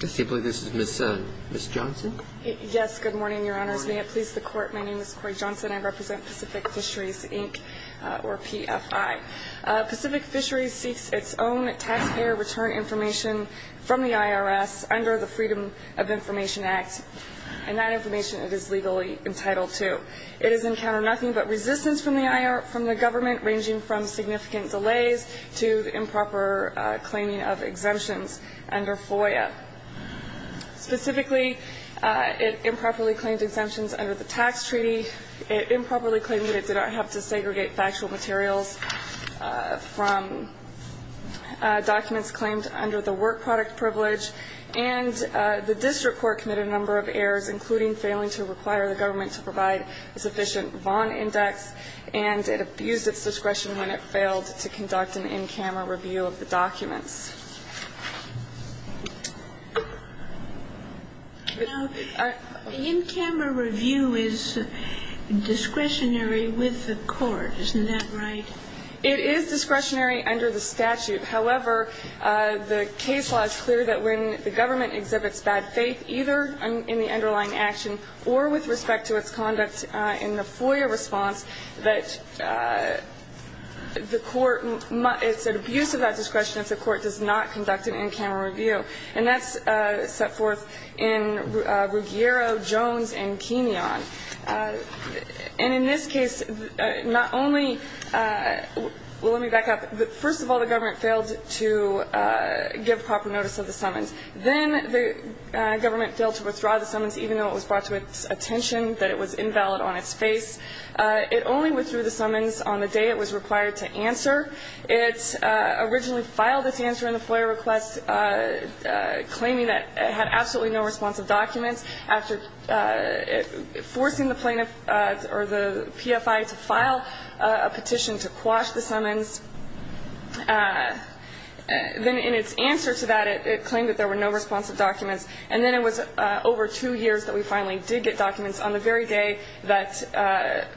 This is Ms. Johnson. Yes, good morning, Your Honors. May it please the Court, my name is Cori Johnson. I represent Pacific Fisheries, Inc., or PFI. Pacific Fisheries seeks its own taxpayer return information from the IRS under the Freedom of Information Act, and that information it is legally entitled to. It has encountered nothing but resistance from the government, ranging from significant delays to the improper claiming of exemptions under FOIA. Specifically, it improperly claimed exemptions under the tax treaty. It improperly claimed that it did not have to segregate factual materials from documents claimed under the work product privilege. And the district court committed a number of errors, including failing to require the government to provide a sufficient Vaughn index, and it abused its discretion when it failed to conduct an in-camera review of the documents. Now, the in-camera review is discretionary with the court, isn't that right? It is discretionary under the statute. However, the case law is clear that when the government exhibits bad faith, either in the underlying action or with respect to its conduct in the FOIA response, that the court must – it's an abuse of that discretion if the court does not conduct an in-camera review. And that's set forth in Ruggiero, Jones, and Kenyon. And in this case, not only – well, let me back up. First of all, the government failed to give proper notice of the summons. Then the government failed to withdraw the summons, even though it was brought to its attention that it was invalid on its face. It only withdrew the summons on the day it was required to answer. It originally filed its answer in the FOIA request, claiming that it had absolutely no responsive documents. After forcing the plaintiff – or the PFI to file a petition to quash the summons, then in its answer to that, it claimed that there were no responsive documents. And then it was over two years that we finally did get documents on the very day that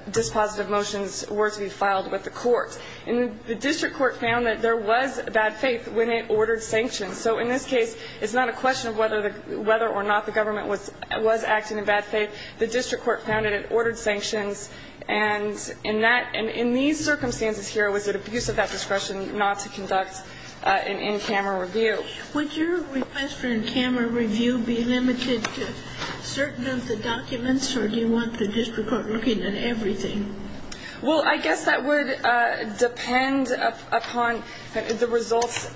dispositive motions were to be filed with the court. And the district court found that there was bad faith when it ordered sanctions. So in this case, it's not a question of whether or not the government was acting in bad faith. The district court found that it ordered sanctions. And in that – and in these circumstances here, it was an abuse of that discretion not to conduct an in-camera review. Would your request for an in-camera review be limited to certain of the documents, or do you want the district court looking at everything? Well, I guess that would depend upon the results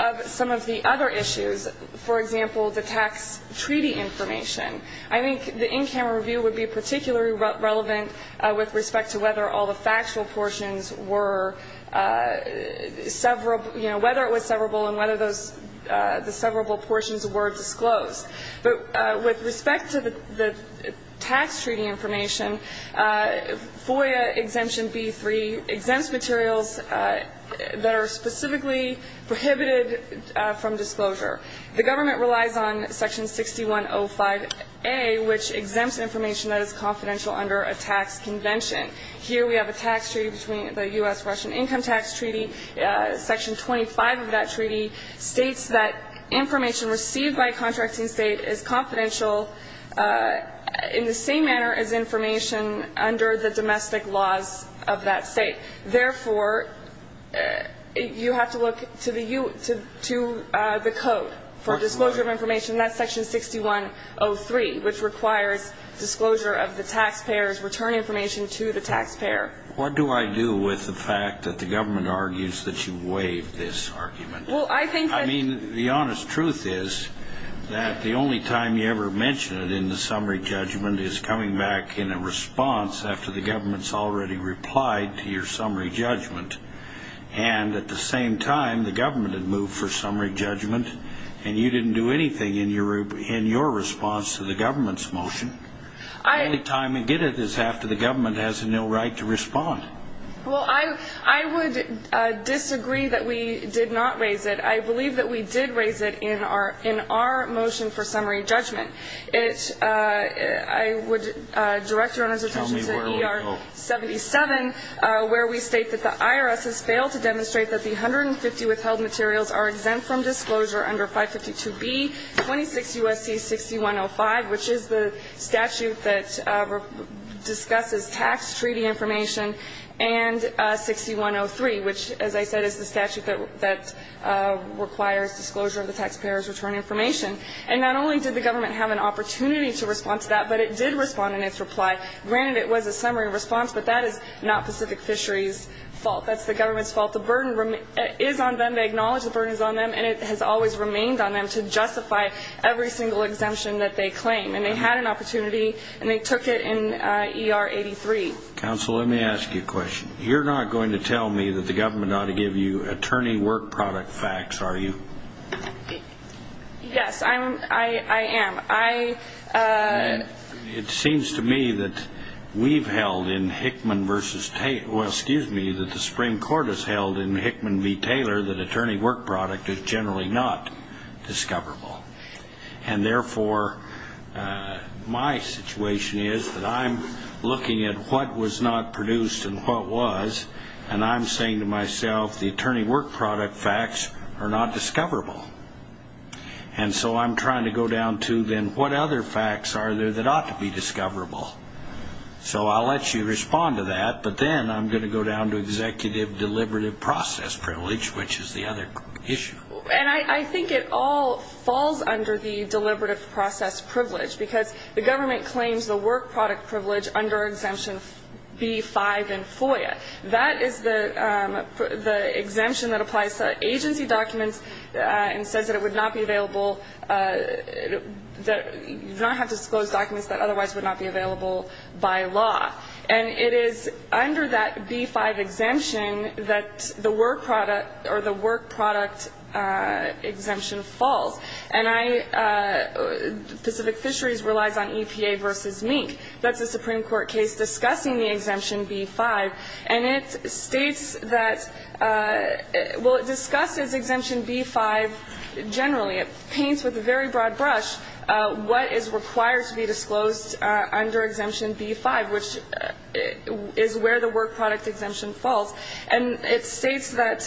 of some of the other issues. For example, the tax treaty information. I think the in-camera review would be particularly relevant with respect to whether all the factual portions were several – you know, whether it was severable and whether those – the severable portions were disclosed. But with respect to the tax treaty information, FOIA Exemption B-3 exempts materials that are specifically prohibited from disclosure. The government relies on Section 6105A, which exempts information that is confidential under a tax convention. Here we have a tax treaty between the U.S.-Russian Income Tax Treaty. Section 25 of that treaty states that information received by a contracting state is confidential in the same manner as information under the domestic laws of that state. Therefore, you have to look to the – to the code for disclosure of information. And that's Section 6103, which requires disclosure of the taxpayer's return information to the taxpayer. What do I do with the fact that the government argues that you waived this argument? Well, I think that – I mean, the honest truth is that the only time you ever mention it in the summary judgment is coming back in a response after the government's already replied to your summary judgment. And at the same time, the government had moved for summary judgment, and you didn't do anything in your response to the government's motion. The only time you get it is after the government has no right to respond. Well, I would disagree that we did not raise it. I believe that we did raise it in our motion for summary judgment. I would direct Your Honor's attention to ER 77, where we state that the IRS has failed to demonstrate that the 150 withheld materials are exempt from disclosure under 552B, 26 U.S.C. 6105, which is the statute that discusses tax treaty information, and 6103, which, as I said, is the statute that requires disclosure of the taxpayer's return information. And not only did the government have an opportunity to respond to that, but it did respond in its reply. Granted, it was a summary response, but that is not Pacific Fisheries' fault. That's the government's fault. The burden is on them. They acknowledge the burden is on them, and it has always remained on them to justify every single exemption that they claim. And they had an opportunity, and they took it in ER 83. Counsel, let me ask you a question. You're not going to tell me that the government ought to give you attorney work product facts, are you? Yes, I am. It seems to me that we've held in Hickman v. Taylor, well, excuse me, that the Supreme Court has held in Hickman v. Taylor that attorney work product is generally not discoverable. And therefore, my situation is that I'm looking at what was not produced and what was, and I'm saying to myself, the attorney work product facts are not discoverable. And so I'm trying to go down to, then, what other facts are there that ought to be discoverable? So I'll let you respond to that, but then I'm going to go down to executive deliberative process privilege, which is the other issue. And I think it all falls under the deliberative process privilege because the government claims the work product privilege under exemption B-5 in FOIA. That is the exemption that applies to agency documents and says that it would not be available, that you do not have to disclose documents that otherwise would not be available by law. And it is under that B-5 exemption that the work product or the work product exemption falls. And I — Pacific Fisheries relies on EPA v. Mink. That's a Supreme Court case discussing the exemption B-5. And it states that — well, it discusses exemption B-5 generally. It paints with a very broad brush what is required to be disclosed under exemption B-5, which is where the work product exemption falls. And it states that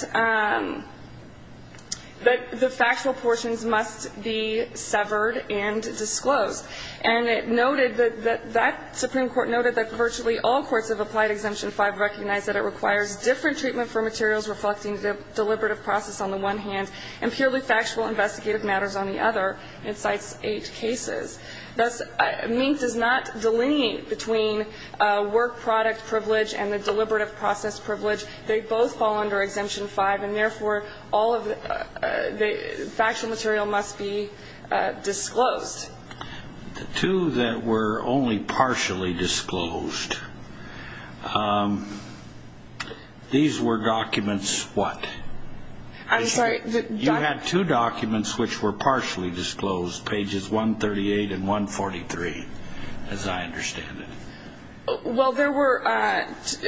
the factual portions must be severed and disclosed. And it noted that that Supreme Court noted that virtually all courts of applied exemption 5 recognize that it requires different treatment for materials reflecting the deliberative process on the one hand and purely factual investigative matters on the other. It cites eight cases. Thus, Mink does not delineate between work product privilege and the deliberative process privilege. They both fall under exemption 5, and, therefore, all of the factual material must be disclosed. The two that were only partially disclosed, these were documents what? I'm sorry. You had two documents which were partially disclosed, pages 138 and 143, as I understand it. Well, there were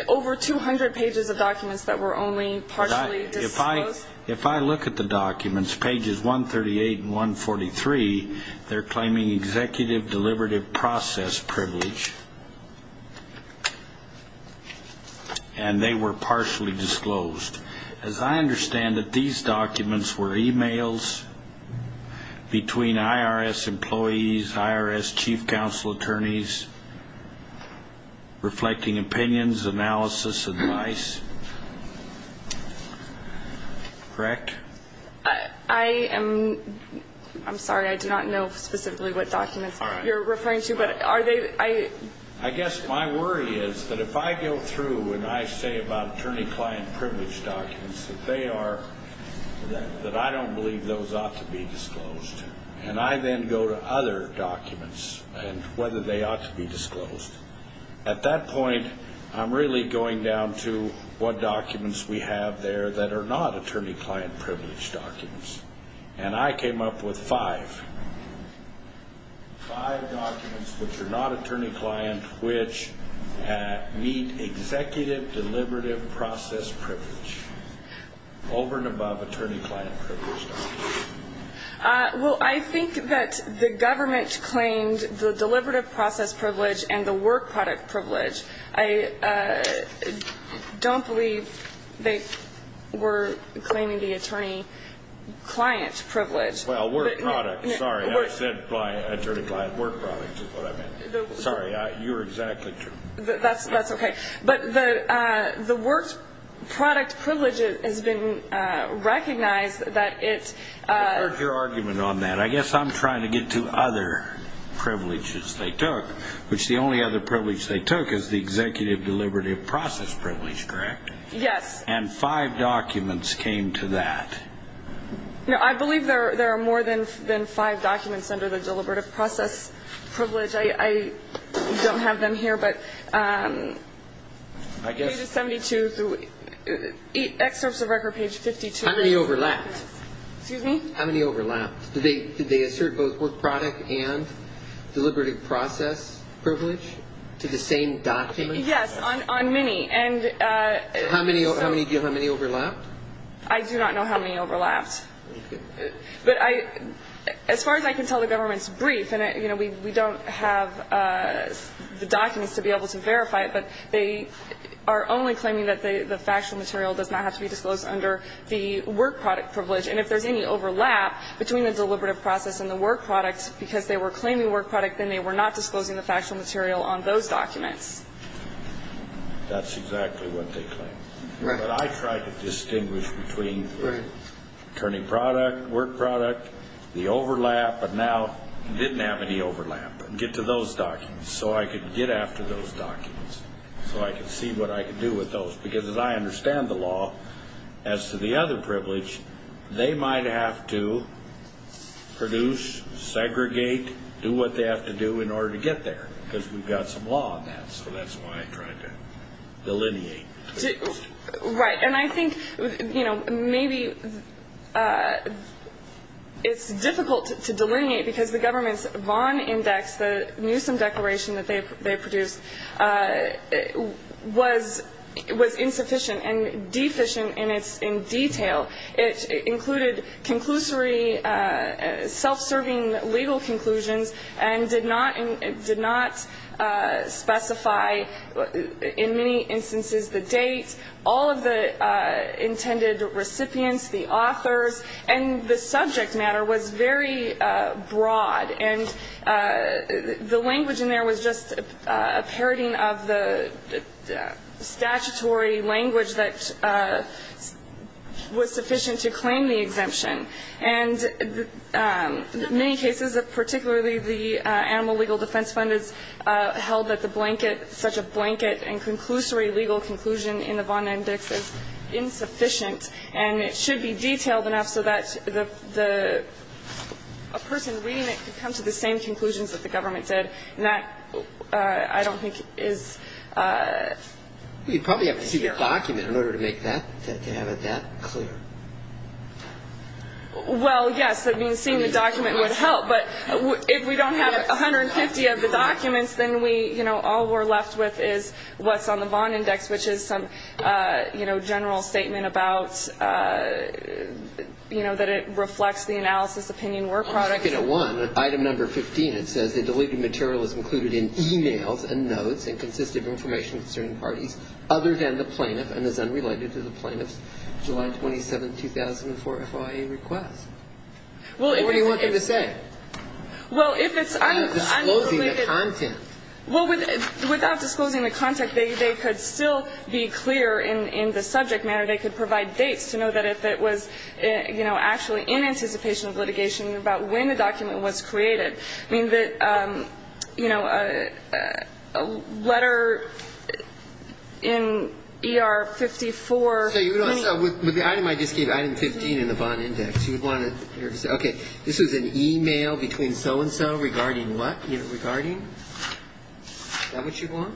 over 200 pages of documents that were only partially disclosed. If I look at the documents, pages 138 and 143, they're claiming executive deliberative process privilege, and they were partially disclosed. As I understand it, these documents were e-mails between IRS employees, IRS chief counsel attorneys, reflecting opinions, analysis, advice, correct? I am sorry. I do not know specifically what documents you're referring to, but are they? I guess my worry is that if I go through and I say about attorney-client privilege documents, that I don't believe those ought to be disclosed, and I then go to other documents and whether they ought to be disclosed. At that point, I'm really going down to what documents we have there that are not attorney-client privilege documents, and I came up with five. Five documents which are not attorney-client, which meet executive deliberative process privilege, over and above attorney-client privilege documents. Well, I think that the government claimed the deliberative process privilege and the work product privilege. I don't believe they were claiming the attorney-client privilege. Well, work product. Sorry, I said by attorney-client work product is what I meant. Sorry, you're exactly true. That's okay. But the work product privilege has been recognized that it's- I heard your argument on that. I guess I'm trying to get to other privileges they took, which the only other privilege they took is the executive deliberative process privilege, correct? Yes. And five documents came to that. No, I believe there are more than five documents under the deliberative process privilege. I don't have them here, but pages 72 through- Excerpts of record page 52. How many overlapped? Excuse me? How many overlapped? Did they assert both work product and deliberative process privilege to the same document? Yes, on many. How many overlapped? I do not know how many overlapped. But I as far as I can tell the government's brief, and we don't have the documents to be able to verify it, but they are only claiming that the factual material does not have to be disclosed under the work product privilege. And if there's any overlap between the deliberative process and the work product because they were claiming work product, then they were not disclosing the factual material on those documents. That's exactly what they claim. Right. That's what I try to distinguish between attorney product, work product, the overlap, but now didn't have any overlap. Get to those documents so I can get after those documents so I can see what I can do with those. Because as I understand the law, as to the other privilege, they might have to produce, segregate, do what they have to do in order to get there because we've got some law on that. So that's why I tried to delineate. Right. And I think, you know, maybe it's difficult to delineate because the government's Vaughan index, the Newsom declaration that they produced, was insufficient and deficient in detail. It included conclusory self-serving legal conclusions and did not specify in many instances the date, all of the intended recipients, the authors, and the subject matter was very broad. And the language in there was just a parodying of the statutory language that was sufficient to claim the exemption. And many cases, particularly the animal legal defense fund, held that the blanket, such a blanket and conclusory legal conclusion in the Vaughan index is insufficient and it should be detailed enough so that the person reading it could come to the same conclusions that the government did. And that, I don't think, is clear. You probably have to see the document in order to make that, to have it that clear. Well, yes. I mean, seeing the document would help. But if we don't have 150 of the documents, then we, you know, all we're left with is what's on the Vaughan index, which is some, you know, general statement about, you know, that it reflects the analysis opinion work product. I want to look at one, item number 15. It says the deleted material is included in e-mails and notes and consists of information concerning parties other than the plaintiff and is unrelated to the plaintiff's July 27, 2004 FOIA request. What do you want them to say? Well, if it's unrelated. Disclosing the content. Well, without disclosing the content, they could still be clear in the subject matter. They could provide dates to know that if it was, you know, actually in anticipation of litigation about when the document was created. I mean, that, you know, a letter in ER 54. With the item I just gave, item 15 in the Vaughan index, you would want to say, okay, this is an e-mail between so-and-so regarding what? Regarding? Is that what you want?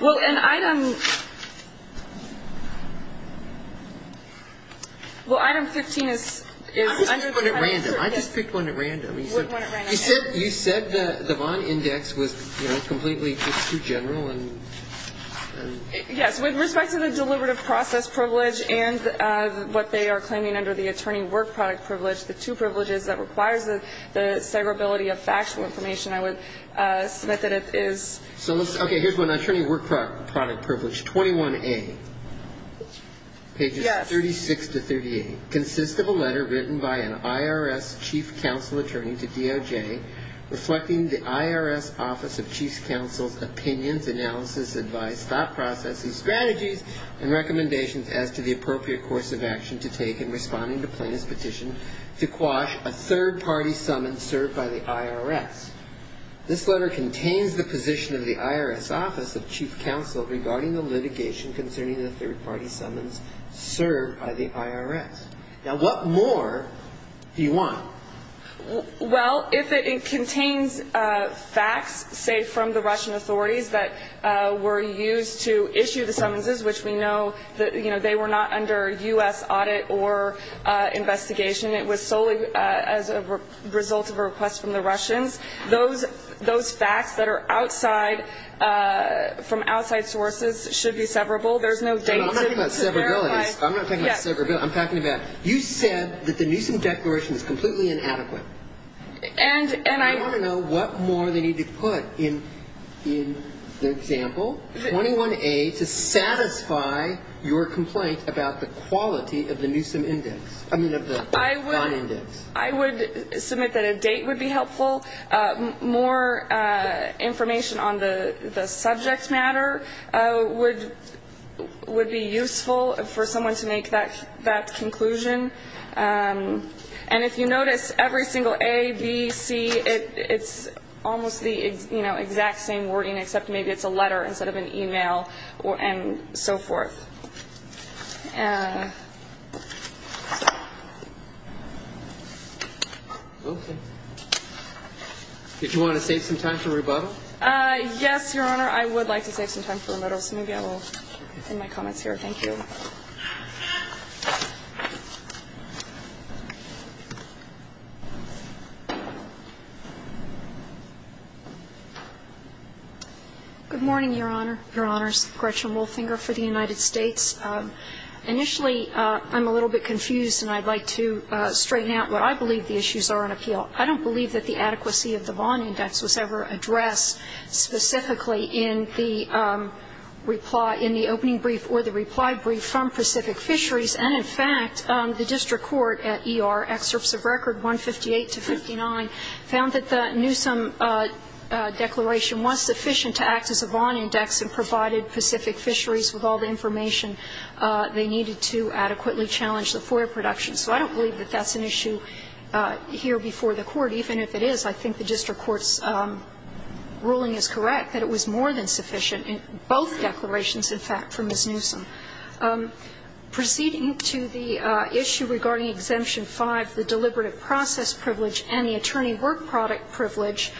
Well, an item. Well, item 15 is. I just picked one at random. I just picked one at random. You said the Vaughan index was, you know, completely just too general and. Yes. With respect to the deliberative process privilege and what they are claiming under the attorney work product privilege, the two privileges that requires the severability of factual information, I would submit that it is. Okay. Here's one. Attorney work product privilege 21A. Pages 36 to 38. Consists of a letter written by an IRS chief counsel attorney to DOJ reflecting the IRS office of chief counsel's opinions, analysis, advice, thought processes, strategies, and recommendations as to the appropriate course of action to take in responding to plaintiff's petition to quash a third-party summons served by the IRS. This letter contains the position of the IRS office of chief counsel regarding the litigation concerning the third-party summons served by the IRS. Now, what more do you want? Well, if it contains facts, say, from the Russian authorities that were used to issue the summonses, which we know that, you know, they were not under U.S. audit or investigation. It was solely as a result of a request from the Russians. Those facts that are outside from outside sources should be severable. There's no date. I'm not talking about severability. I'm not talking about severability. No, I'm talking about you said that the Newsom declaration is completely inadequate. And I want to know what more they need to put in the example 21A to satisfy your complaint about the quality of the Newsom index. I mean, of the bond index. I would submit that a date would be helpful. More information on the subject matter would be useful for someone to make that conclusion. And if you notice, every single A, B, C, it's almost the, you know, exact same wording, except maybe it's a letter instead of an e-mail and so forth. Did you want to save some time for rebuttal? Yes, Your Honor. I would like to save some time for rebuttal. So maybe I will end my comments here. Thank you. Good morning, Your Honor. Your Honors. Gretchen Wolfinger for the United States. Initially, I'm a little bit confused and I'd like to straighten out what I believe the issues are in appeal. I don't believe that the adequacy of the bond index was ever addressed specifically in the reply, in the opening brief or the reply brief from Pacific Fisheries. And, in fact, the district court at ER, excerpts of record 158 to 59, found that the Newsom declaration was sufficient to act as a bond index and provided Pacific Fisheries with all the information they needed to adequately challenge the FOIA production. So I don't believe that that's an issue here before the Court. Even if it is, I think the district court's ruling is correct, that it was more than sufficient in both declarations, in fact, from Ms. Newsom. Proceeding to the issue regarding Exemption 5, the deliberative process privilege and the attorney work product privilege,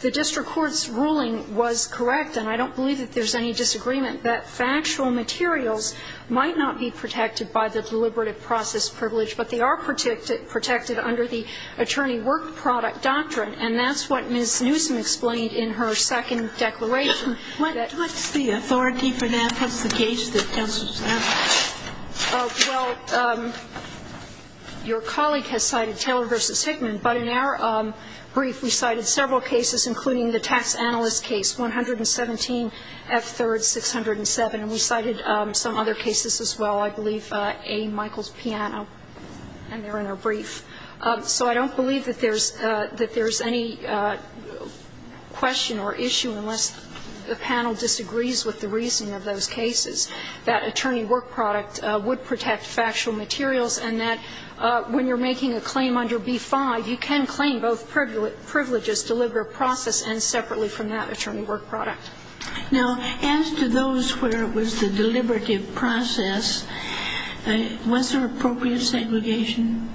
the district court's ruling was correct and I don't believe that there's any disagreement that factual materials might not be protected by the deliberative process privilege, but they are protected under the attorney work product doctrine. And that's what Ms. Newsom explained in her second declaration. What's the authority for that? What's the case that counsel's asking? Well, your colleague has cited Taylor v. Hickman, but in our brief we cited several cases, including the tax analyst case, 117 F. 3rd. 607. And we cited some other cases as well. I believe A. Michaels-Piano. And they're in our brief. So I don't believe that there's any question or issue unless the panel disagrees with the reason of those cases, that attorney work product would protect factual materials and that when you're making a claim under B-5, you can claim both privileges deliberative process and separately from that attorney work product. Now, as to those where it was the deliberative process, was there appropriate segregation?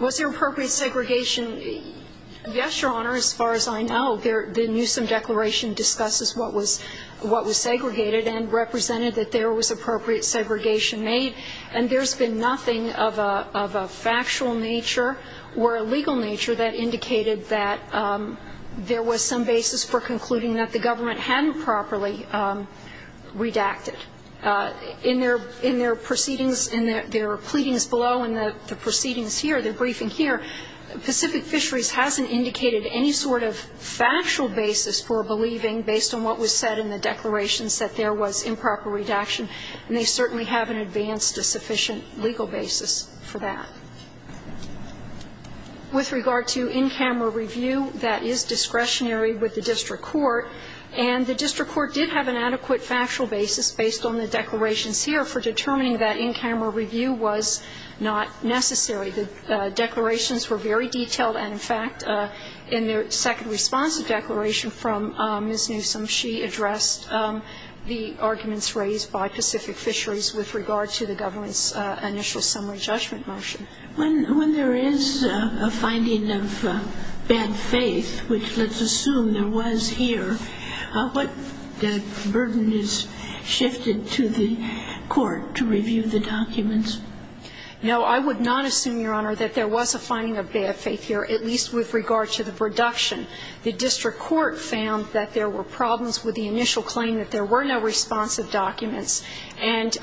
Was there appropriate segregation? Yes, Your Honor, as far as I know. The Newsom declaration discusses what was segregated and represented that there was appropriate segregation made, and there's been nothing of a factual nature or a legal nature that indicated that there was some basis for concluding that the government hadn't properly redacted. In their proceedings, in their pleadings below and the proceedings here, the briefing here, Pacific Fisheries hasn't indicated any sort of factual basis for believing based on what was said in the declarations that there was improper redaction, and they certainly haven't advanced a sufficient legal basis for that. With regard to in-camera review, that is discretionary with the district court, and the district court did have an adequate factual basis based on the declarations here for determining that in-camera review was not necessary. The declarations were very detailed, and in fact, in their second response to the declaration from Ms. Newsom, she addressed the arguments raised by Pacific Fisheries with regard to the government's initial summary judgment motion. When there is a finding of bad faith, which let's assume there was here, what burden is shifted to the court to review the documents? No, I would not assume, Your Honor, that there was a finding of bad faith here, at least with regard to the reduction. The district court found that there were problems with the initial claim that there were no responsive documents, and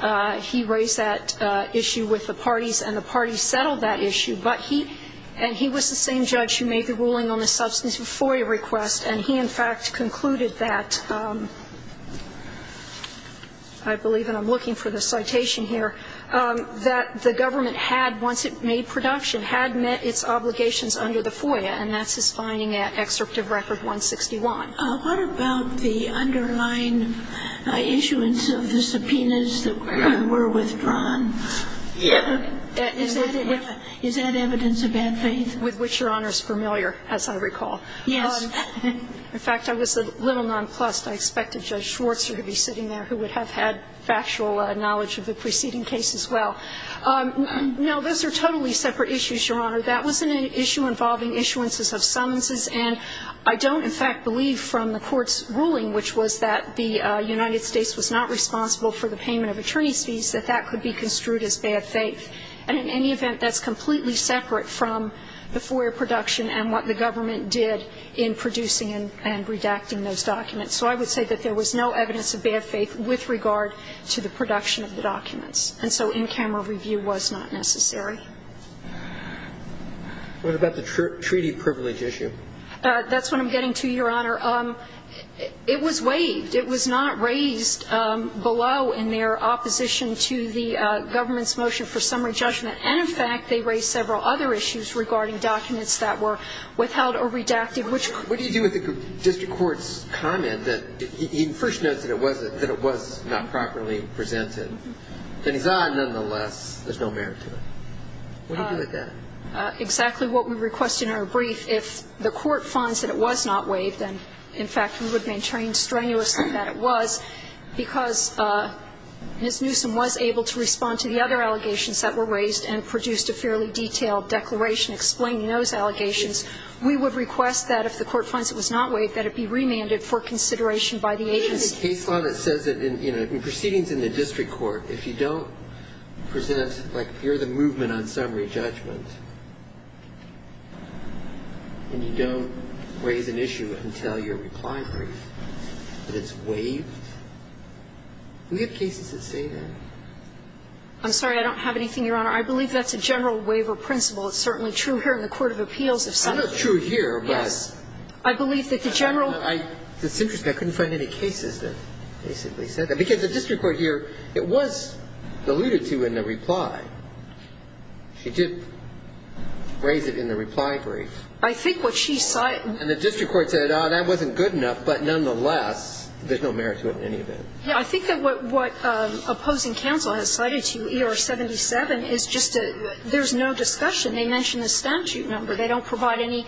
he raised that issue with the parties, and the parties settled that issue. But he – and he was the same judge who made the ruling on the substantive FOIA request, and he, in fact, concluded that – I believe, and I'm looking for the citation here – that the government had, once it made production, had met its obligations under the FOIA, and that's his finding at Excerpt of Record 161. What about the underlying issuance of the subpoenas that were withdrawn? Yes. Is that evidence of bad faith? With which, Your Honor, is familiar, as I recall. Yes. In fact, I was a little nonplussed. I expected Judge Schwarzer to be sitting there, who would have had factual knowledge of the preceding case as well. No, those are totally separate issues, Your Honor. That wasn't an issue involving issuances of summonses, and I don't, in fact, believe from the Court's ruling, which was that the United States was not responsible for the payment of attorney's fees, that that could be construed as bad faith. And in any event, that's completely separate from the FOIA production and what the government did in producing and redacting those documents. So I would say that there was no evidence of bad faith with regard to the production of the documents. And so in-camera review was not necessary. What about the treaty privilege issue? That's what I'm getting to, Your Honor. It was waived. It was not raised below in their opposition to the government's motion for summary judgment. And, in fact, they raised several other issues regarding documents that were withheld or redacted. What do you do with the district court's comment that he first notes that it was not properly presented, and he's, ah, nonetheless, there's no merit to it? What do you do with that? Exactly what we requested in our brief. And if the court finds that it was not waived, then, in fact, we would maintain strenuously that it was, because Ms. Newsom was able to respond to the other allegations that were raised and produced a fairly detailed declaration explaining those allegations. We would request that if the court finds it was not waived, that it be remanded for consideration by the agency. In the case law that says that, you know, in proceedings in the district court, if you don't present, like, you're the movement on summary judgment, and you don't raise an issue until you're reply brief, that it's waived, we have cases that say that. I'm sorry, I don't have anything, Your Honor. I believe that's a general waiver principle. It's certainly true here in the court of appeals. It's not true here, but I believe that the general. It's interesting. I couldn't find any cases that basically said that. Because the district court here, it was alluded to in the reply. She did raise it in the reply brief. I think what she cited. And the district court said, oh, that wasn't good enough, but nonetheless, there's no merit to it in any event. Yeah. I think that what opposing counsel has cited to you, ER-77, is just a, there's no discussion. They don't provide any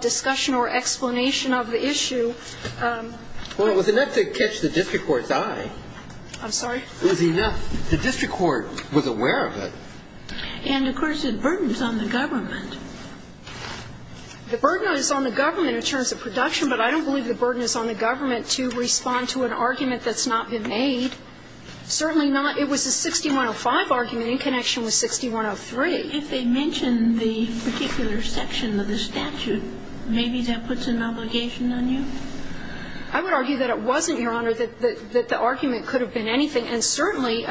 discussion or explanation of the issue. Well, it was enough to catch the district court's eye. I'm sorry? It was enough. The district court was aware of it. And, of course, it burdens on the government. The burden is on the government in terms of production, but I don't believe the burden is on the government to respond to an argument that's not been made. Certainly not. It was a 6105 argument in connection with 6103. If they mention the particular section of the statute, maybe that puts an obligation I would argue that it wasn't, Your Honor, that the argument could have been anything. And certainly,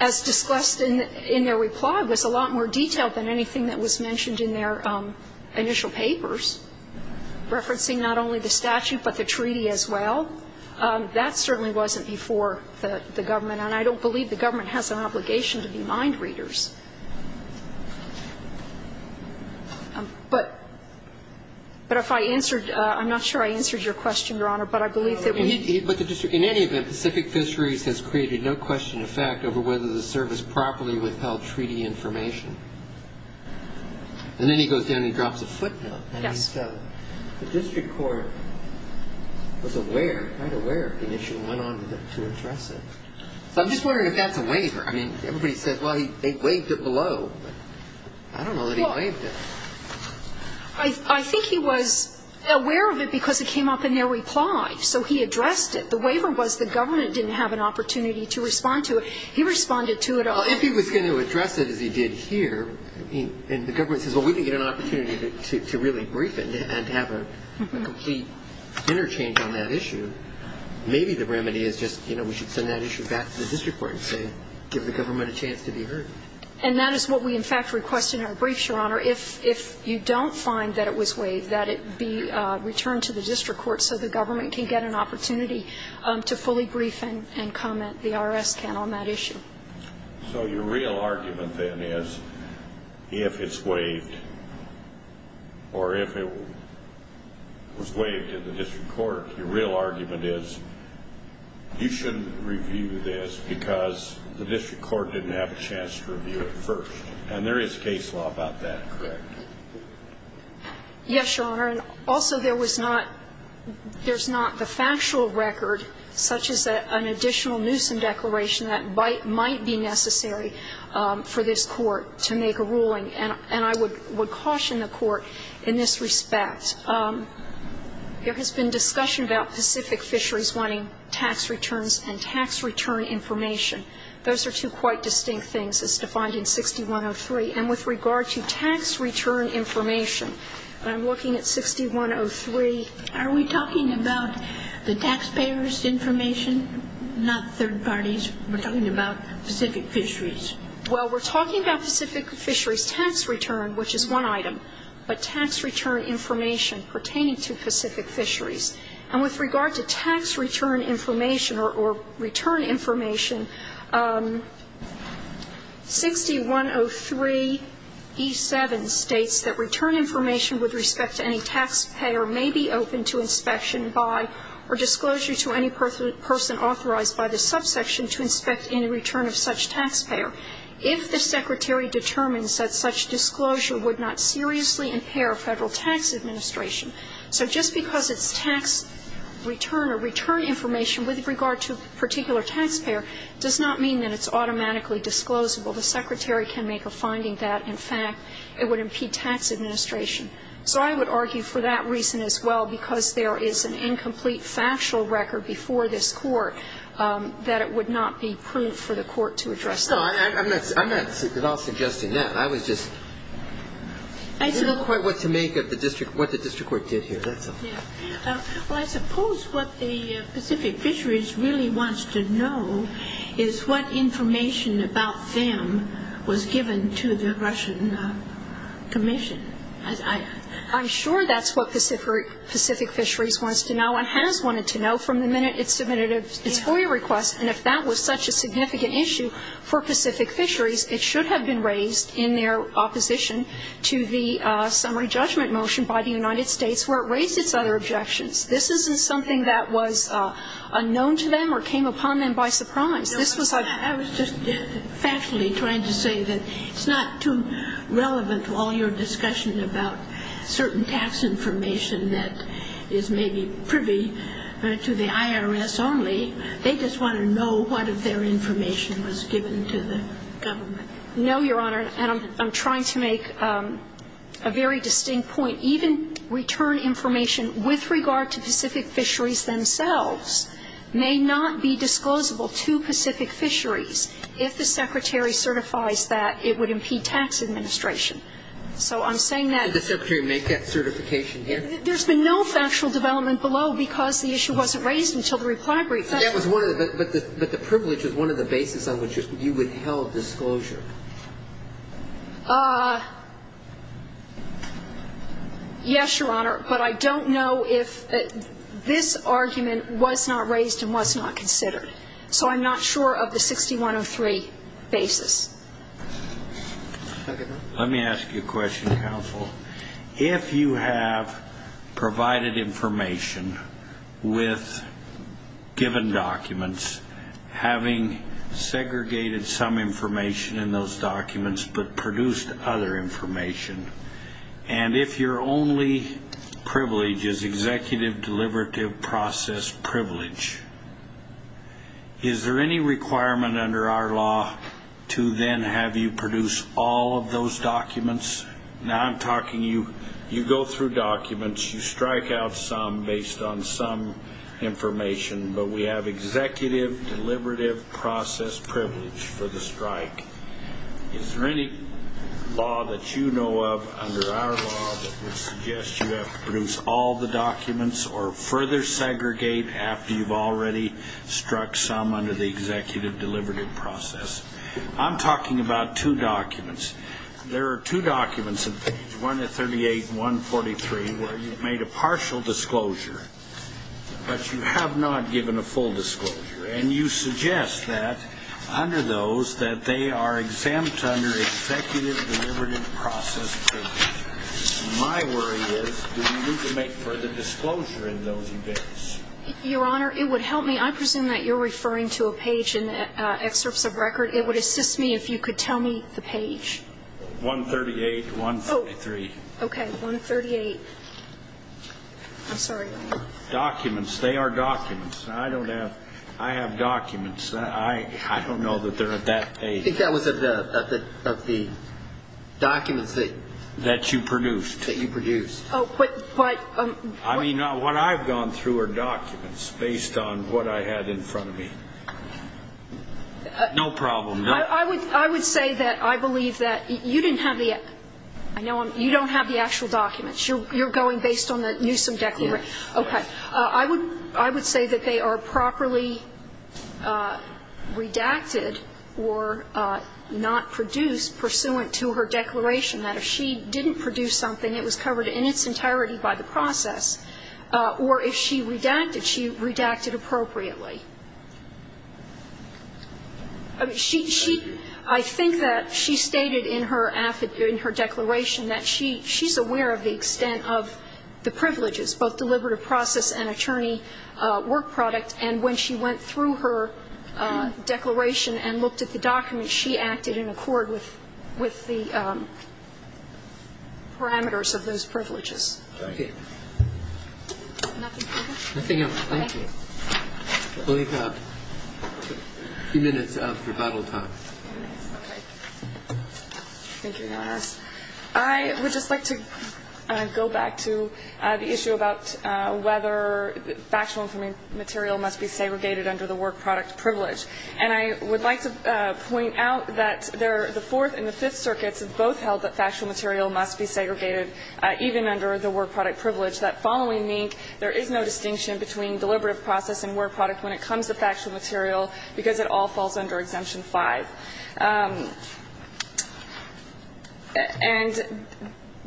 as discussed in their reply, it was a lot more detailed than anything that was mentioned in their initial papers, referencing not only the statute, but the treaty as well. That certainly wasn't before the government. And I don't believe the government has an obligation to be mind readers. But if I answered, I'm not sure I answered your question, Your Honor, but I believe that we need to. But the district, in any event, Pacific Fisheries has created no question of fact over whether the service properly withheld treaty information. And then he goes down and drops a footnote. Yes. And he said the district court was aware, quite aware of the issue, and went on to address it. So I'm just wondering if that's a waiver. I mean, everybody says, well, they waived it. They waived it below. I don't know that he waived it. I think he was aware of it because it came up in their reply. So he addressed it. The waiver was the government didn't have an opportunity to respond to it. He responded to it. Well, if he was going to address it as he did here, and the government says, well, we can get an opportunity to really brief it and have a complete interchange on that issue, maybe the remedy is just, you know, we should send that issue back to the district court and say give the government a chance to be heard. And that is what we, in fact, requested in our briefs, Your Honor. If you don't find that it was waived, that it be returned to the district court so the government can get an opportunity to fully brief and comment, the IRS can, on that issue. So your real argument, then, is if it's waived or if it was waived in the district court, your real argument is you shouldn't review this because the district court didn't have a chance to review it first. And there is case law about that, correct? Yes, Your Honor. And also there was not the factual record, such as an additional nuisance declaration that might be necessary for this court to make a ruling. And I would caution the court in this respect. There has been discussion about Pacific Fisheries wanting tax returns and tax return information. Those are two quite distinct things as defined in 6103. And with regard to tax return information, I'm looking at 6103. Are we talking about the taxpayers' information, not third parties? We're talking about Pacific Fisheries. Well, we're talking about Pacific Fisheries tax return, which is one item. But tax return information pertaining to Pacific Fisheries. And with regard to tax return information or return information, 6103E7 states that return information with respect to any taxpayer may be open to inspection by or disclosure to any person authorized by the subsection to inspect any return of such taxpayer. If the Secretary determines that such disclosure would not seriously impair Federal Tax Administration, so just because it's tax return or return information with regard to a particular taxpayer does not mean that it's automatically disclosable. The Secretary can make a finding that, in fact, it would impede tax administration. So I would argue for that reason as well, because there is an incomplete factual record before this Court that it would not be proof for the Court to address that. No, I'm not at all suggesting that. I was just quite what to make of what the district court did here. That's all. Well, I suppose what the Pacific Fisheries really wants to know is what information about them was given to the Russian Commission. I'm sure that's what Pacific Fisheries wants to know and what everyone has wanted to know from the minute it submitted its FOIA request. And if that was such a significant issue for Pacific Fisheries, it should have been raised in their opposition to the summary judgment motion by the United States where it raised its other objections. This isn't something that was unknown to them or came upon them by surprise. This was a ---- I was just factually trying to say that it's not too relevant to all your discussion about certain tax information that is maybe privy to the IRS only. They just want to know what of their information was given to the government. No, Your Honor, and I'm trying to make a very distinct point. Even return information with regard to Pacific Fisheries themselves may not be disclosable to Pacific Fisheries if the Secretary certifies that it would impede tax administration. So I'm saying that ---- Could the Secretary make that certification here? There's been no factual development below because the issue wasn't raised until the reply brief. But that was one of the ---- but the privilege was one of the basis on which you withheld disclosure. Yes, Your Honor, but I don't know if this argument was not raised and was not considered. So I'm not sure of the 6103 basis. Let me ask you a question, counsel. If you have provided information with given documents, having segregated some information in those documents but produced other information, and if your only privilege is executive deliberative process privilege, is there any requirement under our law to then have you produce all of those documents? Now I'm talking you go through documents, you strike out some based on some information, but we have executive deliberative process privilege for the strike. Is there any law that you know of under our law that would suggest you have to produce all the documents or further segregate after you've already struck some under the executive deliberative process? I'm talking about two documents. There are two documents in page 138 and 143 where you've made a partial disclosure, but you have not given a full disclosure, and you suggest that under those that they are exempt under executive deliberative process privilege. My worry is do you need to make further disclosure in those events? Your Honor, it would help me. I presume that you're referring to a page in the excerpts of record. It would assist me if you could tell me the page. 138, 143. Okay. 138. I'm sorry. Documents. They are documents. I don't have ‑‑ I have documents. I don't know that they're at that page. I think that was of the documents that you produced. That you produced. Oh, but ‑‑ I mean, what I've gone through are documents based on what I had in front of me. No problem. I would say that I believe that you didn't have the actual documents. You're going based on the Newsom Declaration. Yes. Okay. I would say that they are properly redacted or not produced pursuant to her declaration that if she didn't produce something, it was covered in its entirety by the process. Or if she redacted, she redacted appropriately. I think that she stated in her declaration that she's aware of the extent of the process and attorney work product. And when she went through her declaration and looked at the documents, she acted in accord with the parameters of those privileges. Okay. Nothing else? Nothing else. Thank you. We have a few minutes of rebuttal time. Okay. Thank you, Your Honor. I would just like to go back to the issue about whether factual material must be segregated under the work product privilege. And I would like to point out that the Fourth and the Fifth Circuits have both held that factual material must be segregated even under the work product privilege, that following NINC there is no distinction between deliberative process and work product when it comes to factual material because it all falls under Exemption 5. And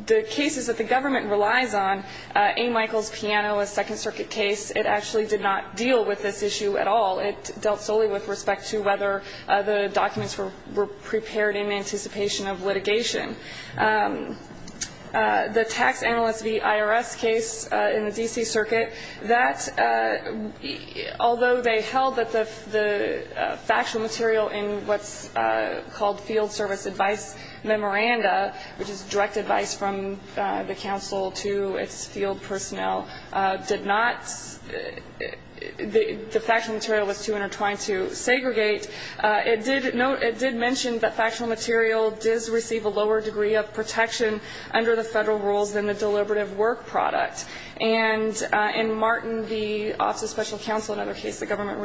the cases that the government relies on, A. Michael's Piano, a Second Circuit case, it actually did not deal with this issue at all. It dealt solely with respect to whether the documents were prepared in anticipation of litigation. The tax analyst v. IRS case in the D.C. called Field Service Advice Memoranda, which is direct advice from the council to its field personnel, did not the factual material was too intertwined to segregate. It did mention that factual material does receive a lower degree of protection under the federal rules than the deliberative work product. And in Martin v. Office of Special Counsel, another case the government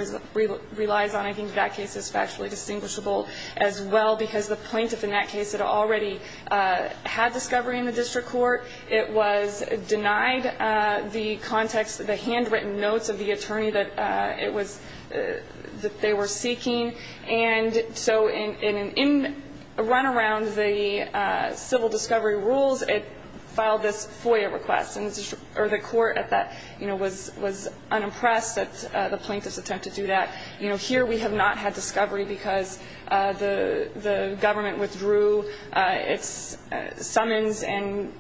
relies on, I think that case is factually distinguishable as well because the plaintiff in that case had already had discovery in the district court. It was denied the context, the handwritten notes of the attorney that it was that they were seeking. And so in a run around the civil discovery rules, it filed this FOIA request, and the court at that, you know, was unimpressed at the plaintiff's attempt to do that. You know, here we have not had discovery because the government withdrew its summons and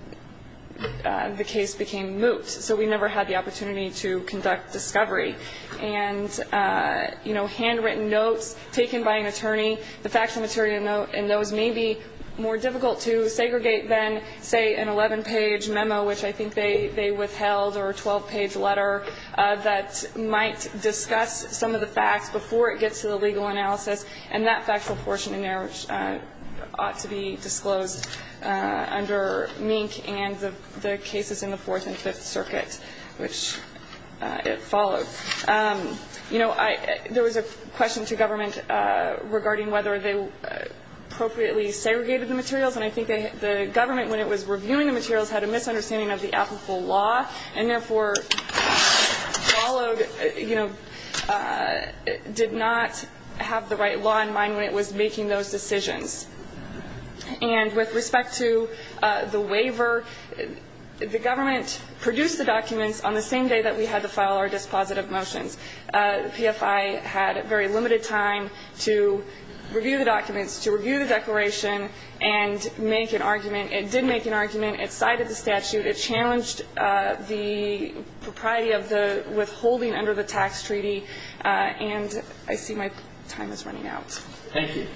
the case became moot, so we never had the opportunity to conduct discovery. And, you know, handwritten notes taken by an attorney, the factual material note, and those may be more difficult to segregate than, say, an 11-page memo, which I think they withheld, or a 12-page letter that might discuss some of the facts before it gets to the legal analysis. And that factual portion in there ought to be disclosed under Mink and the cases in the Fourth and Fifth Circuit, which it followed. You know, there was a question to government regarding whether they appropriately segregated the materials, and I think the government, when it was reviewing the materials, had a misunderstanding of the applicable law, and therefore followed, you know, did not have the right law in mind when it was making those decisions. And with respect to the waiver, the government produced the documents on the same day that we had to file our dispositive motions. The PFI had very limited time to review the documents, to review the declaration and make an argument. It did make an argument. It cited the statute. It challenged the propriety of the withholding under the tax treaty, and I see my time is running out. Thank you.